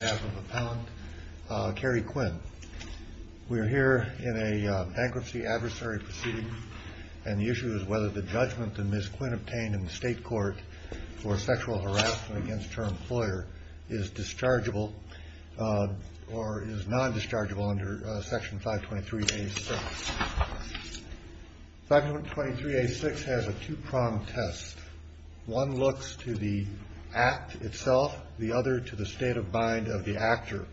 We are here in a bankruptcy adversary proceeding and the issue is whether the judgment that Ms. Quinn obtained in the state court for sexual harassment against her employer is dischargeable or is non-dischargeable under Section 523A6. Section 523A6 has a two-pronged test. One looks to the act itself, the other to the state of mind of the actor.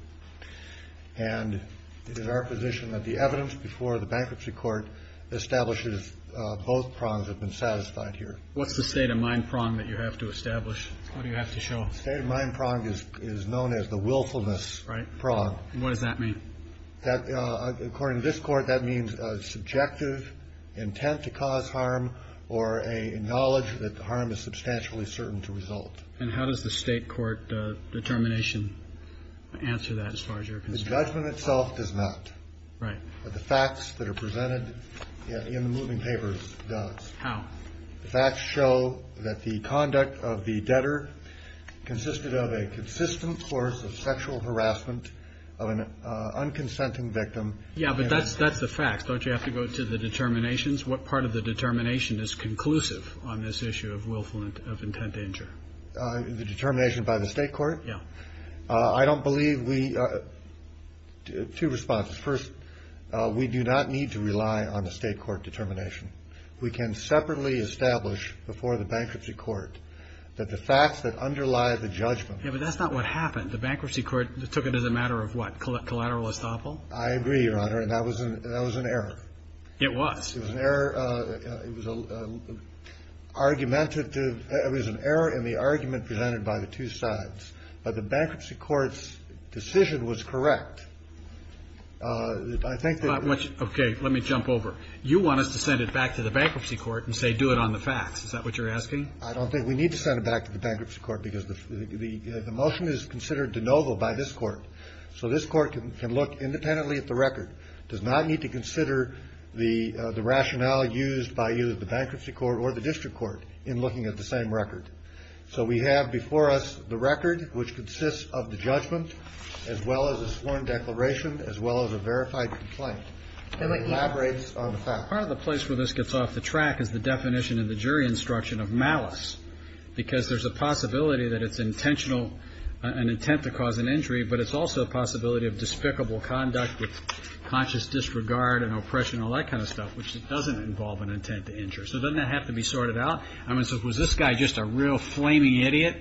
And it is our position that the evidence before the bankruptcy court establishes both prongs have been satisfied here. What's the state of mind prong that you have to establish? What do you have to show? The state of mind prong is known as the willfulness prong. And what does that mean? According to this court, that means a subjective intent to cause harm or a knowledge that the harm is substantially certain to result. And how does the state court determination answer that as far as you're concerned? The judgment itself does not. Right. But the facts that are presented in the moving papers does. How? The facts show that the conduct of the debtor consisted of a consistent source of sexual harassment of an unconsenting victim. Yeah, but that's the facts. Don't you have to go to the determinations? What part of the determination is conclusive on this issue of willfulness of intent to injure? The determination by the state court? Yeah. I don't believe we – two responses. First, we do not need to rely on the state court determination. We can separately establish before the bankruptcy court that the facts that underlie the judgment. Yeah, but that's not what happened. The bankruptcy court took it as a matter of what, collateral estoppel? I agree, Your Honor, and that was an error. It was. It was an error. It was argumentative. It was an error in the argument presented by the two sides. But the bankruptcy court's decision was correct. I think that – Okay. Let me jump over. You want us to send it back to the bankruptcy court and say do it on the facts. Is that what you're asking? I don't think we need to send it back to the bankruptcy court because the motion is considered de novo by this court. So this court can look independently at the record. It does not need to consider the rationale used by either the bankruptcy court or the district court in looking at the same record. So we have before us the record, which consists of the judgment, as well as a sworn declaration, as well as a verified complaint. And it elaborates on the fact. Part of the place where this gets off the track is the definition in the jury instruction of malice because there's a possibility that it's intentional, an intent to cause an injury, but it's also a possibility of despicable conduct with conscious disregard and oppression and all that kind of stuff, which doesn't involve an intent to injure. So doesn't that have to be sorted out? I mean, so was this guy just a real flaming idiot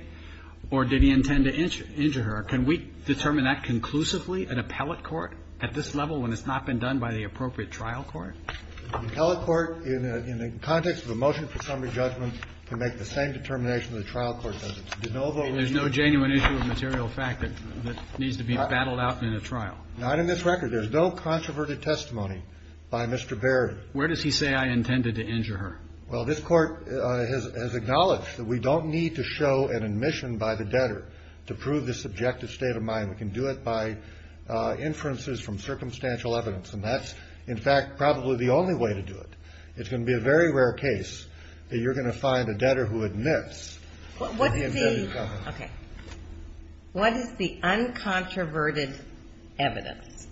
or did he intend to injure her? Can we determine that conclusively in appellate court at this level when it's not been done by the appropriate trial court? The appellate court, in the context of the motion for summary judgment, can make the same determination the trial court does. It's de novo. I mean, there's no genuine issue of material fact that needs to be battled out in a trial. Not in this record. There's no controverted testimony by Mr. Berry. Where does he say I intended to injure her? Well, this Court has acknowledged that we don't need to show an admission by the debtor to prove the subjective state of mind. We can do it by inferences from circumstantial evidence, and that's, in fact, probably the only way to do it. It's going to be a very rare case that you're going to find a debtor who admits that he intended to kill her. Okay. What is the uncontroverted evidence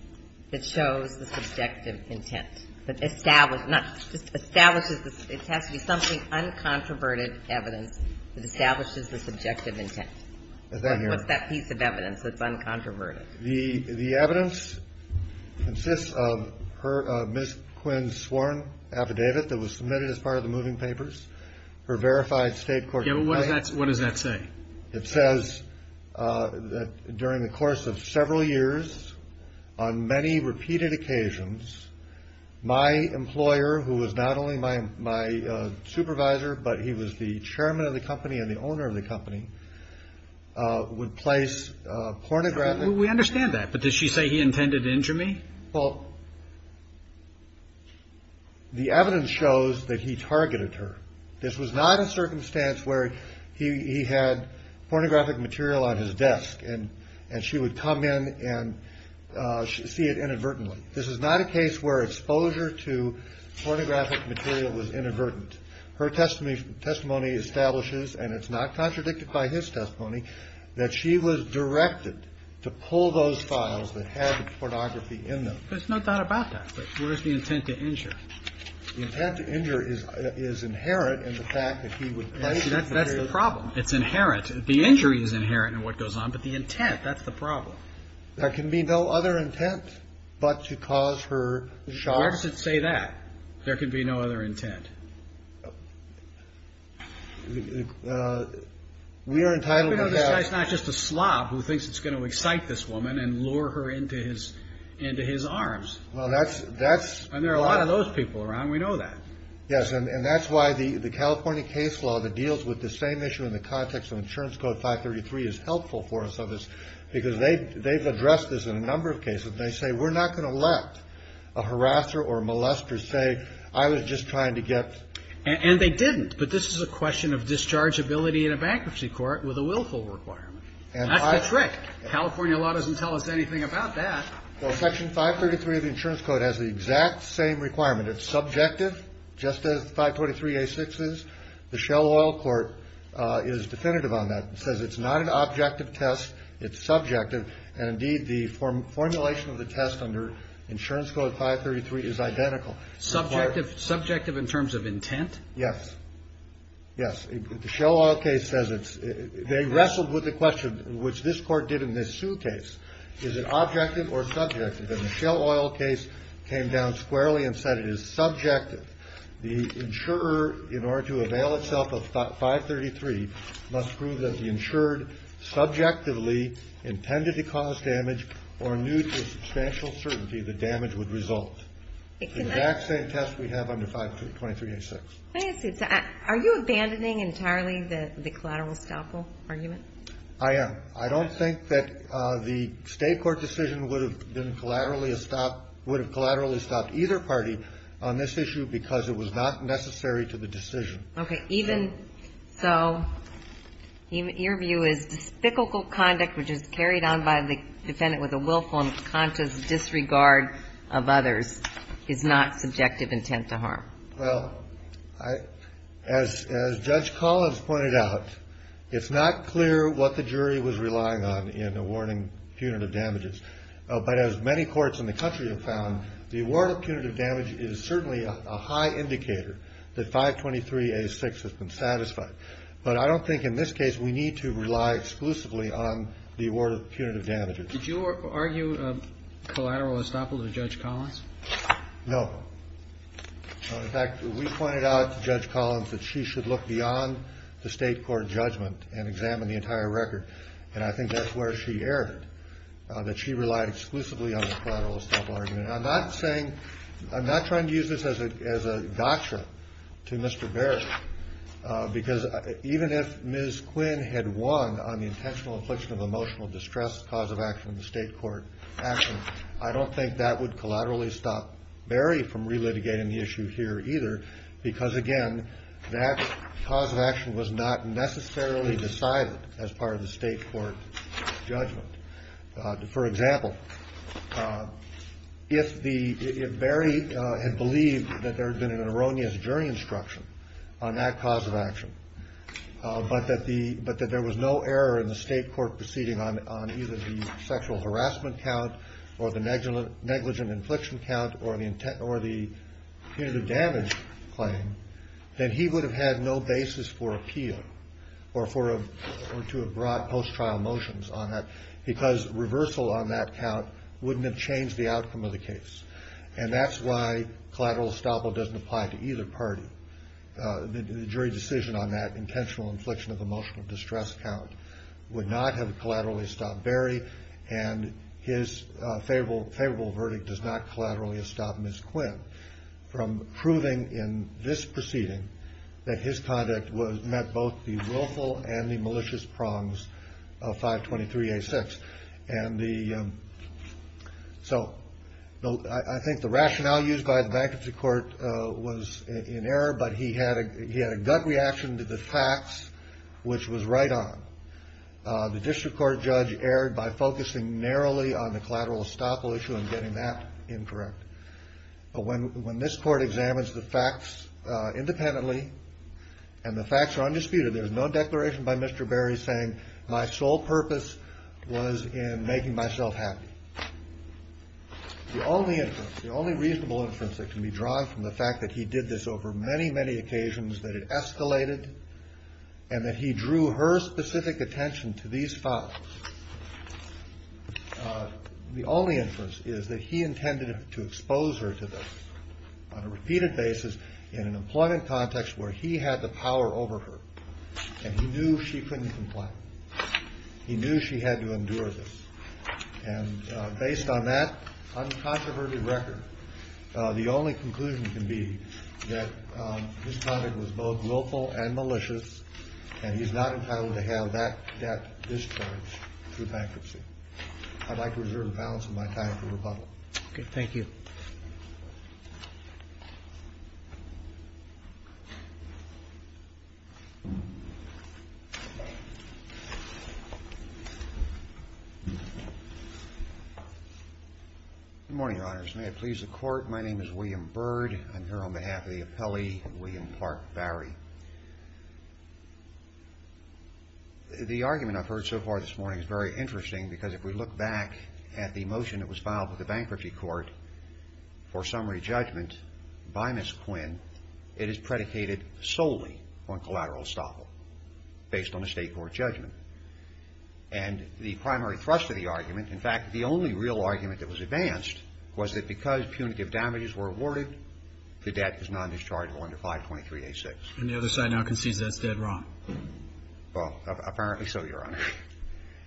that shows the subjective intent? That establishes, not just establishes, it has to be something uncontroverted evidence that establishes the subjective intent. Is that here? What's that piece of evidence that's uncontroverted? The evidence consists of her Ms. Quinn's sworn affidavit that was submitted as part of the moving papers, her verified state court complaint. Yeah, but what does that say? It says that during the course of several years, on many repeated occasions, my employer, who was not only my supervisor, but he was the chairman of the company and the owner of the company, would place pornographic. We understand that, but did she say he intended to injure me? Well, the evidence shows that he targeted her. This was not a circumstance where he had pornographic material on his desk, and she would come in and see it inadvertently. This is not a case where exposure to pornographic material was inadvertent. Her testimony establishes, and it's not contradicted by his testimony, that she was directed to pull those files that had the pornography in them. There's no doubt about that, but where's the intent to injure? The intent to injure is inherent in the fact that he would place pornographic. That's the problem. It's inherent. The injury is inherent in what goes on, but the intent, that's the problem. There can be no other intent but to cause her shock. Where does it say that? There can be no other intent. We are entitled to have... We know this guy's not just a slob who thinks it's going to excite this woman and lure her into his arms. Well, that's... And there are a lot of those people around. We know that. Yes, and that's why the California case law that deals with the same issue in the context of Insurance Code 533 is helpful for us on this because they've addressed this in a number of cases, and they say, we're not going to let a harasser or a molester say, I was just trying to get... And they didn't, but this is a question of dischargeability in a bankruptcy court with a willful requirement. That's the trick. California law doesn't tell us anything about that. Well, Section 533 of the Insurance Code has the exact same requirement. It's subjective, just as 523A6 is. The Shell Oil Court is definitive on that. It says it's not an objective test. It's subjective. And, indeed, the formulation of the test under Insurance Code 533 is identical. Subjective in terms of intent? Yes. Yes. The Shell Oil case says it's... They wrestled with the question, which this Court did in the Sue case, is it objective or subjective? And the Shell Oil case came down squarely and said it is subjective. The insurer, in order to avail itself of 533, must prove that the insured subjectively intended to cause damage or knew to a substantial certainty the damage would result. It's the exact same test we have under 523A6. Are you abandoning entirely the collateral estoppel argument? I am. I don't think that the State court decision would have been collaterally a stop... would have collaterally stopped either party on this issue because it was not necessary to the decision. Okay. Even so, your view is despicable conduct, which is carried on by the defendant with a willful and conscious disregard of others, is not subjective intent to harm? Well, I... As Judge Collins pointed out, it's not clear what the jury was relying on in awarding punitive damages. But as many courts in the country have found, the award of punitive damage is certainly a high indicator that 523A6 has been satisfied. But I don't think in this case we need to rely exclusively on the award of punitive damages. Did you argue collateral estoppel to Judge Collins? No. In fact, we pointed out to Judge Collins that she should look beyond the State court judgment and examine the entire record. And I think that's where she erred, that she relied exclusively on the collateral estoppel argument. And I'm not saying... I'm not trying to use this as a gotcha to Mr. Berry. Because even if Ms. Quinn had won on the intentional infliction of emotional distress cause of action in the State court action, I don't think that would collaterally stop Berry from relitigating the issue here either. Because, again, that cause of action was not necessarily decided as part of the State court judgment. For example, if Berry had believed that there had been an erroneous jury instruction on that cause of action, but that there was no error in the State court proceeding on either the sexual harassment count or the negligent infliction count or the punitive damage claim, then he would have had no basis for appeal or to have brought post-trial motions on that. Because reversal on that count wouldn't have changed the outcome of the case. And that's why collateral estoppel doesn't apply to either party. The jury decision on that intentional infliction of emotional distress count would not have collaterally stopped Berry, and his favorable verdict does not collaterally stop Ms. Quinn from proving in this proceeding that his conduct met both the willful and the malicious prongs of 523A6. And so I think the rationale used by the bankruptcy court was in error, but he had a gut reaction to the facts, which was right on. The district court judge erred by focusing narrowly on the collateral estoppel issue and getting that incorrect. But when this court examines the facts independently and the facts are undisputed, there is no declaration by Mr. Berry saying, my sole purpose was in making myself happy. The only inference, the only reasonable inference that can be drawn from the fact that he did this over many, many occasions, that it escalated, and that he drew her specific attention to these facts. The only inference is that he intended to expose her to this on a repeated basis in an employment context where he had the power over her, and he knew she couldn't complain. He knew she had to endure this. And based on that uncontroverted record, the only conclusion can be that his conduct was both willful and malicious, and he's not entitled to have that discharge through bankruptcy. I'd like to reserve the balance of my time for rebuttal. Okay, thank you. Good morning, Your Honors. May it please the Court, my name is William Bird. I'm here on behalf of the appellee, William Clark Berry. The argument I've heard so far this morning is very interesting, because if we look back at the motion that was filed with the bankruptcy court for summary judgment by Ms. Quinn, it is predicated solely on collateral estoppel based on a state court judgment. And the primary thrust of the argument, in fact, the only real argument that was advanced, was that because punitive damages were awarded, the debt is not discharged under 523-A6. And the other side now concedes that's dead wrong. Well, apparently so, Your Honor.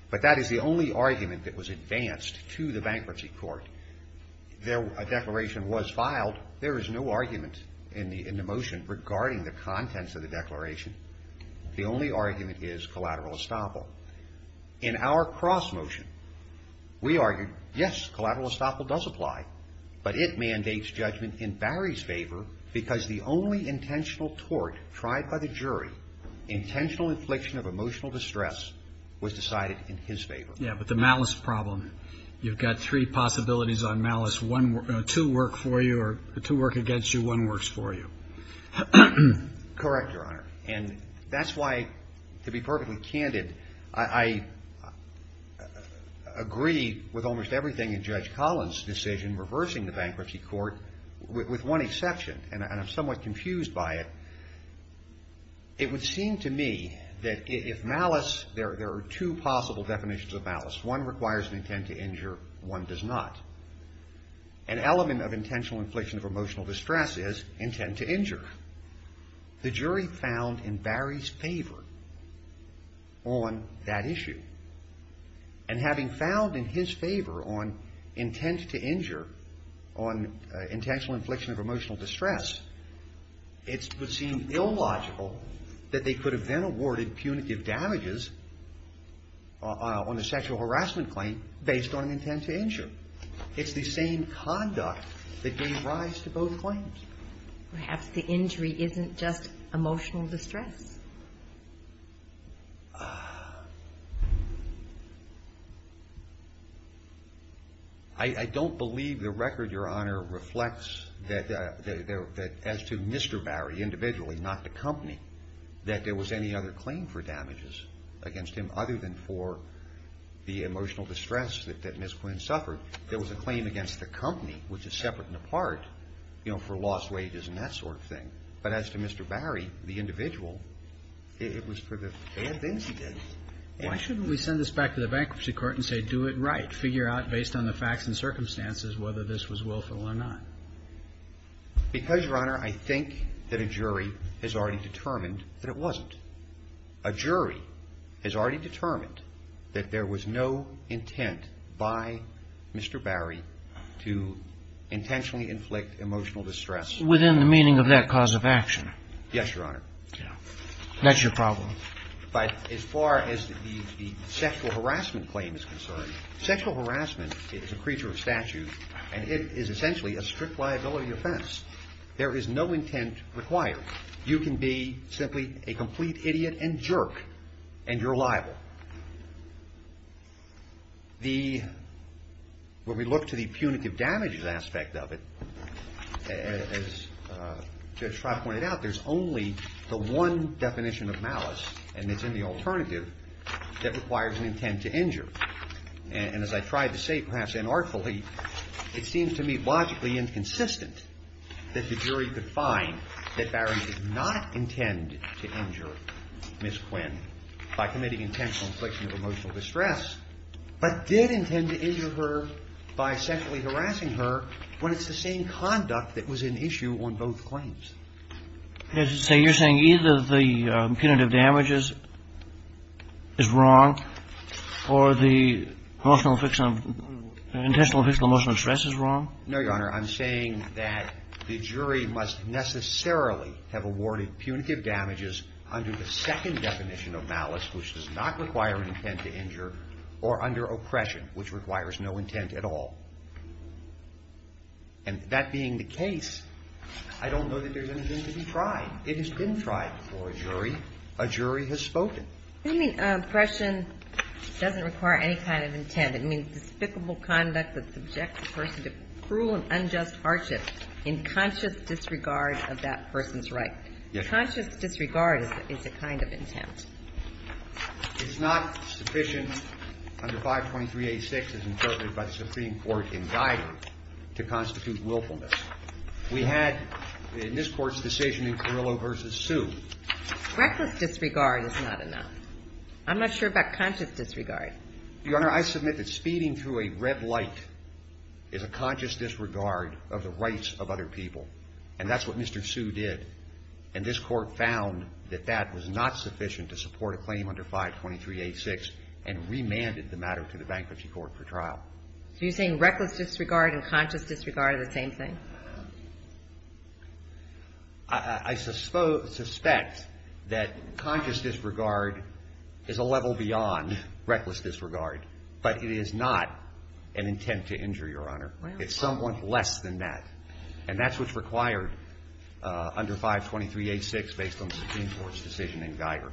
But that is the only argument that was advanced to the bankruptcy court. A declaration was filed. There is no argument in the motion regarding the contents of the declaration. The only argument is collateral estoppel. In our cross motion, we argued, yes, collateral estoppel does apply, but it mandates judgment in Barry's favor, because the only intentional tort tried by the jury, intentional infliction of emotional distress, was decided in his favor. Yeah, but the malice problem, you've got three possibilities on malice, two work for you or two work against you, one works for you. Correct, Your Honor. And that's why, to be perfectly candid, I agree with almost everything in Judge Collins' decision, reversing the bankruptcy court, with one exception, and I'm somewhat confused by it. It would seem to me that if malice, there are two possible definitions of malice, one requires an intent to injure, one does not. An element of intentional infliction of emotional distress is intent to injure. The jury found in Barry's favor on that issue. And having found in his favor on intent to injure, on intentional infliction of emotional distress, it would seem illogical that they could have then awarded punitive damages on a sexual harassment claim based on intent to injure. It's the same conduct that gave rise to both claims. Perhaps the injury isn't just emotional distress. I don't believe the record, Your Honor, reflects that as to Mr. Barry individually, not the company, that there was any other claim for damages against him other than for the emotional distress that Ms. Quinn suffered. There was a claim against the company, which is separate and apart, you know, for lost wages and that sort of thing. But as to Mr. Barry, the individual, it was for the bad things he did. Why shouldn't we send this back to the bankruptcy court and say, do it right, figure out based on the facts and circumstances whether this was willful or not? Because, Your Honor, I think that a jury has already determined that it wasn't. A jury has already determined that there was no intent by Mr. Barry to intentionally inflict emotional distress. Within the meaning of that cause of action. Yes, Your Honor. That's your problem. But as far as the sexual harassment claim is concerned, sexual harassment is a creature of statute and it is essentially a strict liability offense. There is no intent required. You can be simply a complete idiot and jerk and you're liable. The, when we look to the punitive damages aspect of it, as Judge Traub pointed out, there's only the one definition of malice and it's in the alternative that requires an intent to injure. And as I tried to say, perhaps inartfully, it seems to me logically inconsistent that the jury could find that Barry did not intend to injure Ms. Quinn by committing intentional infliction of emotional distress, but did intend to injure her by sexually harassing her when it's the same conduct that was in issue on both claims. So you're saying either the punitive damages is wrong or the intentional infliction of emotional distress is wrong? No, Your Honor. I'm saying that the jury must necessarily have awarded punitive damages under the second definition of malice, which does not require an intent to injure, or under oppression, which requires no intent at all. And that being the case, I don't know that there's anything to be tried. It has been tried before a jury. A jury has spoken. You mean oppression doesn't require any kind of intent. It means despicable conduct that subjects a person to cruel and unjust hardship in conscious disregard of that person's right. Yes. Conscious disregard is a kind of intent. It's not sufficient under 523A6 as interpreted by the Supreme Court in Geider to constitute willfulness. We had in this Court's decision in Carrillo v. Sue. Reckless disregard is not enough. I'm not sure about conscious disregard. Your Honor, I submit that speeding through a red light is a conscious disregard of the rights of other people, and that's what Mr. Sue did. And this Court found that that was not sufficient to support a claim under 523A6 and remanded the matter to the bankruptcy court for trial. So you're saying reckless disregard and conscious disregard are the same thing? I suspect that conscious disregard is a level beyond reckless disregard, but it is not an intent to injure, Your Honor. It's somewhat less than that. And that's what's required under 523A6 based on the Supreme Court's decision in Geider.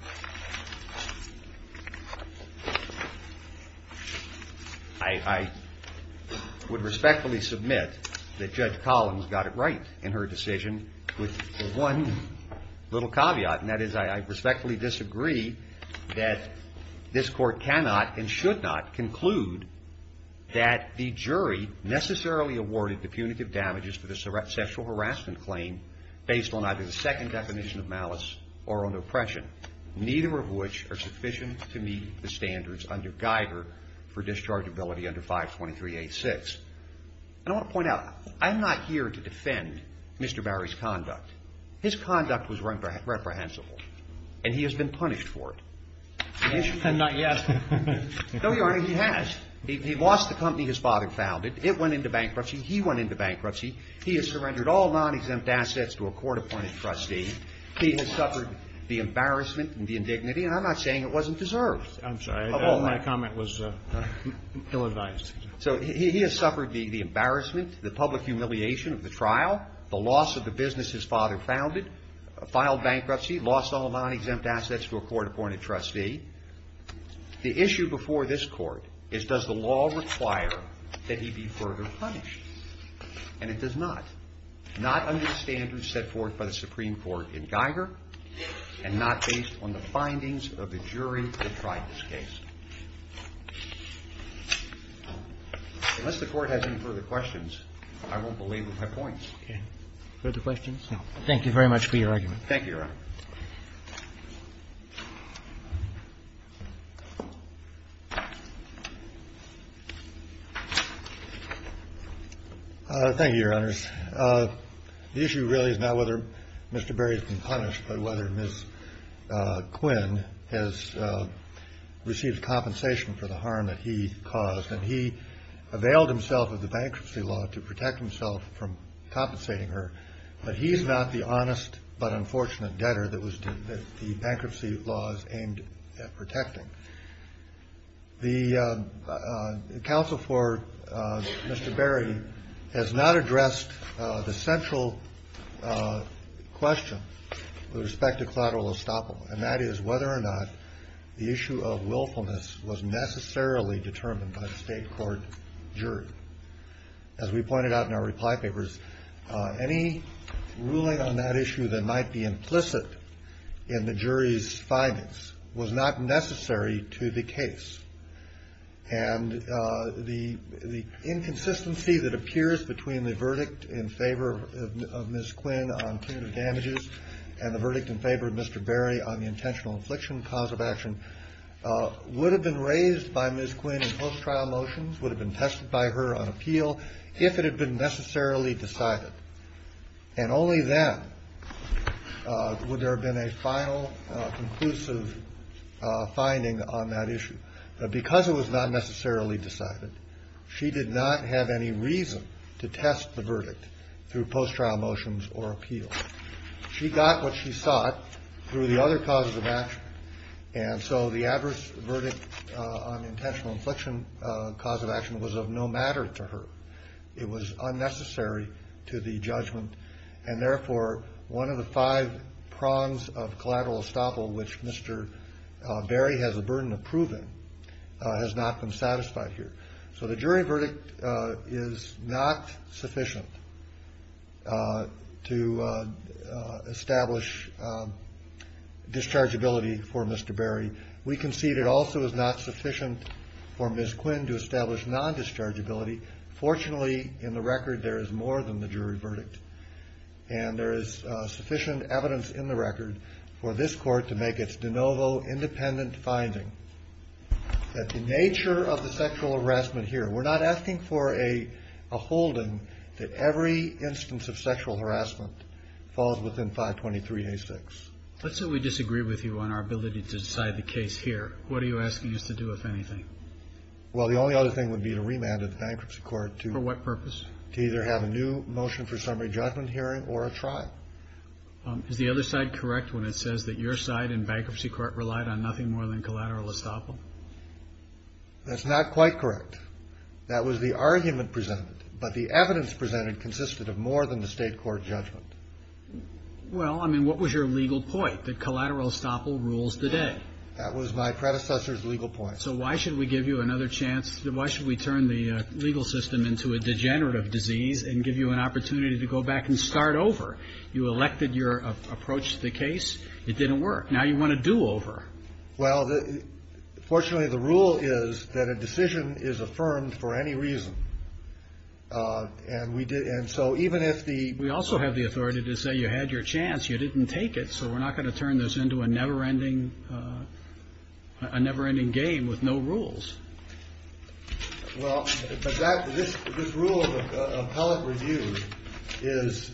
I would respectfully submit that Judge Collins got it right in her decision with one little caveat, and that is I respectfully disagree that this Court cannot and should not conclude that the jury necessarily awarded the punitive damages to the sexual harassment claim based on either the second definition of malice or under oppression, neither of which are sufficient to meet the standards under Geider for dischargeability under 523A6. And I want to point out, I'm not here to defend Mr. Barry's conduct. His conduct was reprehensible, and he has been punished for it. And not yet. No, Your Honor, he has. He lost the company his father founded. It went into bankruptcy. He went into bankruptcy. He has surrendered all non-exempt assets to a court-appointed trustee. He has suffered the embarrassment and the indignity, and I'm not saying it wasn't deserved. I'm sorry. My comment was ill-advised. So he has suffered the embarrassment, the public humiliation of the trial, the loss of the business his father founded, filed bankruptcy, lost all non-exempt assets to a court-appointed trustee. The issue before this Court is, does the law require that he be further punished? And it does not, not under the standards set forth by the Supreme Court in Geider and not based on the findings of the jury that tried this case. Unless the Court has any further questions, I won't belabor my points. Okay. Further questions? No. Thank you very much for your argument. Thank you, Your Honor. Thank you, Your Honors. The issue really is not whether Mr. Berry has been punished, but whether Ms. Quinn has received compensation for the harm that he caused. And he availed himself of the bankruptcy law to protect himself from compensating her. But he's not the honest but unfortunate debtor that the bankruptcy law is aimed at protecting. The counsel for Mr. Berry has not addressed the central question with respect to collateral estoppel, and that is whether or not the issue of willfulness was necessarily determined by the state court jury. As we pointed out in our reply papers, any ruling on that issue that might be implicit in the jury's findings was not necessary to the case. And the inconsistency that appears between the verdict in favor of Ms. Quinn on punitive damages and the verdict in favor of Mr. Berry on the intentional infliction cause of action would have been raised by Ms. Quinn in post-trial motions, would have been tested by her on appeal if it had been necessarily decided. And only then would there have been a final conclusive finding on that issue. But because it was not necessarily decided, she did not have any reason to test the verdict through post-trial motions or appeal. She got what she sought through the other causes of action, and so the adverse verdict on intentional infliction cause of action was of no matter to her. It was unnecessary to the judgment, and therefore, one of the five prongs of collateral estoppel which Mr. Berry has a burden of proving has not been satisfied here. So the jury verdict is not sufficient to establish dischargeability for Mr. Berry. We concede it also is not sufficient for Ms. Quinn to establish nondischargeability. Fortunately, in the record, there is more than the jury verdict, and there is sufficient evidence in the record for this court to make its de novo independent finding that the nature of the sexual harassment here, we're not asking for a holding that every instance of sexual harassment falls within 523A6. Let's say we disagree with you on our ability to decide the case here. What are you asking us to do, if anything? Well, the only other thing would be to remand the bankruptcy court to For what purpose? To either have a new motion for summary judgment hearing or a trial. Is the other side correct when it says that your side in bankruptcy court relied on nothing more than collateral estoppel? That's not quite correct. That was the argument presented, but the evidence presented consisted of more than the state court judgment. Well, I mean, what was your legal point? That collateral estoppel rules the day. That was my predecessor's legal point. So why should we give you another chance? Why should we turn the legal system into a degenerative disease and give you an opportunity to go back and start over? You elected your approach to the case. It didn't work. Now you want to do over. Well, fortunately, the rule is that a decision is affirmed for any reason. And so even if the We also have the authority to say you had your chance. You didn't take it. So we're not going to turn this into a never-ending game with no rules. Well, this rule of appellate review is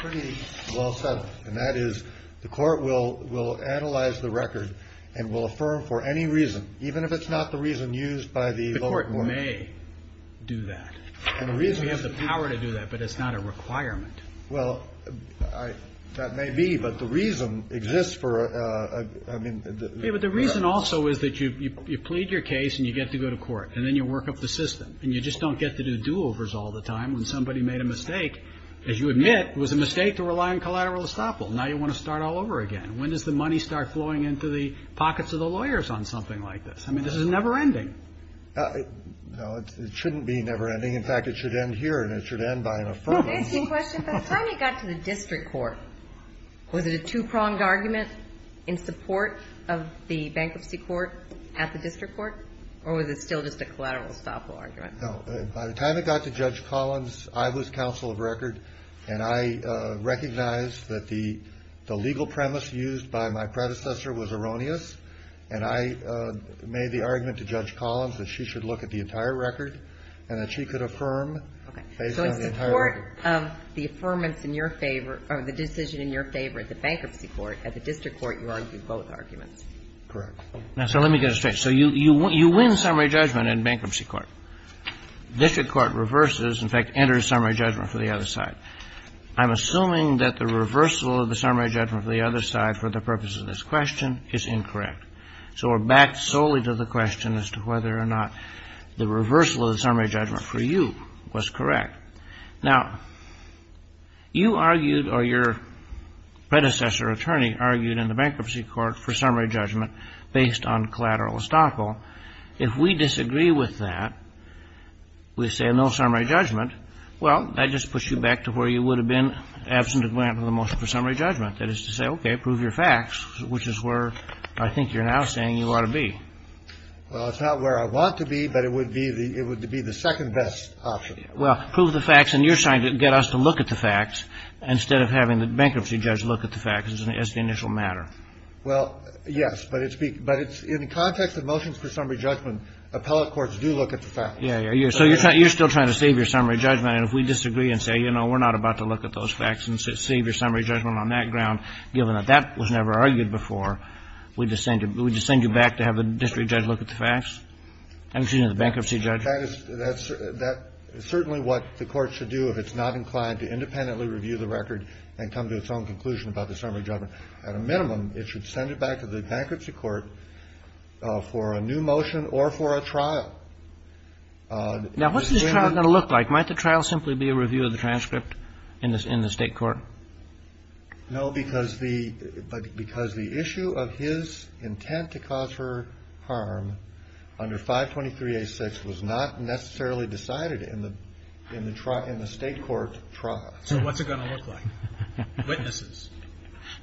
pretty well set up. And that is the court will analyze the record and will affirm for any reason, even if it's not the reason used by the The court may do that. We have the power to do that, but it's not a requirement. Well, that may be, but the reason exists for a But the reason also is that you plead your case and you get to go to court. And then you work up the system. And you just don't get to do do-overs all the time. When somebody made a mistake, as you admit, it was a mistake to rely on collateral estoppel. Now you want to start all over again. When does the money start flowing into the pockets of the lawyers on something like this? I mean, this is never-ending. No, it shouldn't be never-ending. In fact, it should end here. And it should end by an affirmative. I have a question. By the time you got to the district court, was it a two-pronged argument in support of the bankruptcy court at the district court? Or was it still just a collateral estoppel argument? No. By the time it got to Judge Collins, I was counsel of record. And I recognized that the legal premise used by my predecessor was erroneous. And I made the argument to Judge Collins that she should look at the entire record and that she could affirm based on the entire record. Okay. So in support of the affirmance in your favor or the decision in your favor at the bankruptcy court, at the district court you argued both arguments. Correct. Now, so let me get it straight. So you win summary judgment in bankruptcy court. District court reverses, in fact, enters summary judgment for the other side. I'm assuming that the reversal of the summary judgment for the other side for the purpose of this question is incorrect. So we're back solely to the question as to whether or not the reversal of the summary judgment for you was correct. Now, you argued or your predecessor attorney argued in the bankruptcy court for summary judgment based on collateral estoppel. If we disagree with that, we say no summary judgment, well, that just puts you back to where you would have been absent a grant for the motion for summary judgment. That is to say, okay, prove your facts, which is where I think you're now saying you ought to be. Well, it's not where I want to be, but it would be the second best option. Well, prove the facts, and you're trying to get us to look at the facts instead of having the bankruptcy judge look at the facts as the initial matter. Well, yes. But in the context of motions for summary judgment, appellate courts do look at the facts. Yeah, yeah. So you're still trying to save your summary judgment. And if we disagree and say, you know, we're not about to look at those facts and save your summary judgment on that ground, given that that was never argued before, we just send you back to have the district judge look at the facts? I'm assuming the bankruptcy judge. That's certainly what the Court should do if it's not inclined to independently review the record and come to its own conclusion about the summary judgment. At a minimum, it should send it back to the bankruptcy court for a new motion or for a trial. Now, what's the trial going to look like? Might the trial simply be a review of the transcript in the State court? No, because the issue of his intent to cause her harm under 523A6 was not necessarily decided in the State court trial. So what's it going to look like? Witnesses.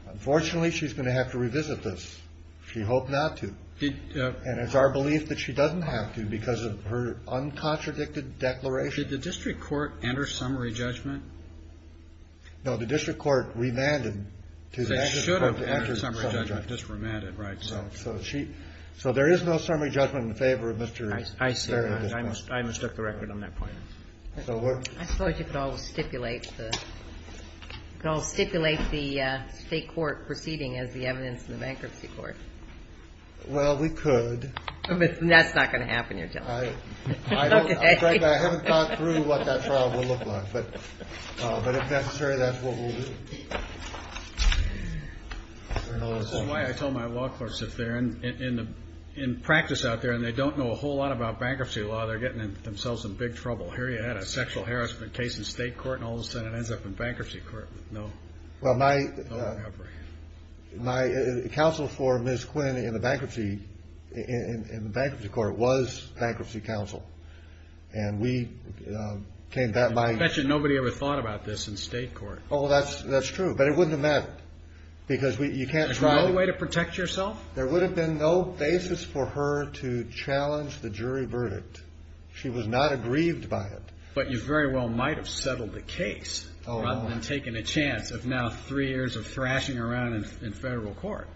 Unfortunately, she's going to have to revisit this. She hoped not to. And it's our belief that she doesn't have to because of her uncontradicted declaration. Did the district court enter summary judgment? No. The district court remanded to the bankruptcy court to enter summary judgment. They should have entered summary judgment, just remanded, right? So there is no summary judgment in favor of Mr. Farragut. I see. I mistook the record on that point. I suppose you could always stipulate the State court proceeding as the evidence in the bankruptcy court. Well, we could. That's not going to happen, you're telling me. I haven't thought through what that trial will look like. But if necessary, that's what we'll do. That's why I told my law clerks if they're in practice out there and they don't know a whole lot about bankruptcy law, they're getting themselves in big trouble. Here you had a sexual harassment case in State court and all of a sudden it ends up in bankruptcy court. No. My counsel for Ms. Quinn in the bankruptcy court was bankruptcy counsel. And we came back by – I bet you nobody ever thought about this in State court. Oh, that's true. But it wouldn't have mattered because you can't – There's no way to protect yourself? There would have been no basis for her to challenge the jury verdict. She was not aggrieved by it. But you very well might have settled the case rather than taking a chance of now three years of thrashing around in Federal court.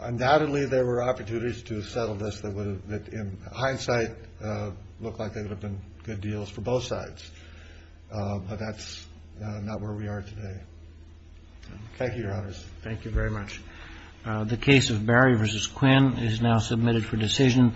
Undoubtedly, there were opportunities to settle this that would have, in hindsight, looked like they would have been good deals for both sides. But that's not where we are today. Thank you, Your Honors. Thank you very much. The case of Barry v. Quinn is now submitted for decision.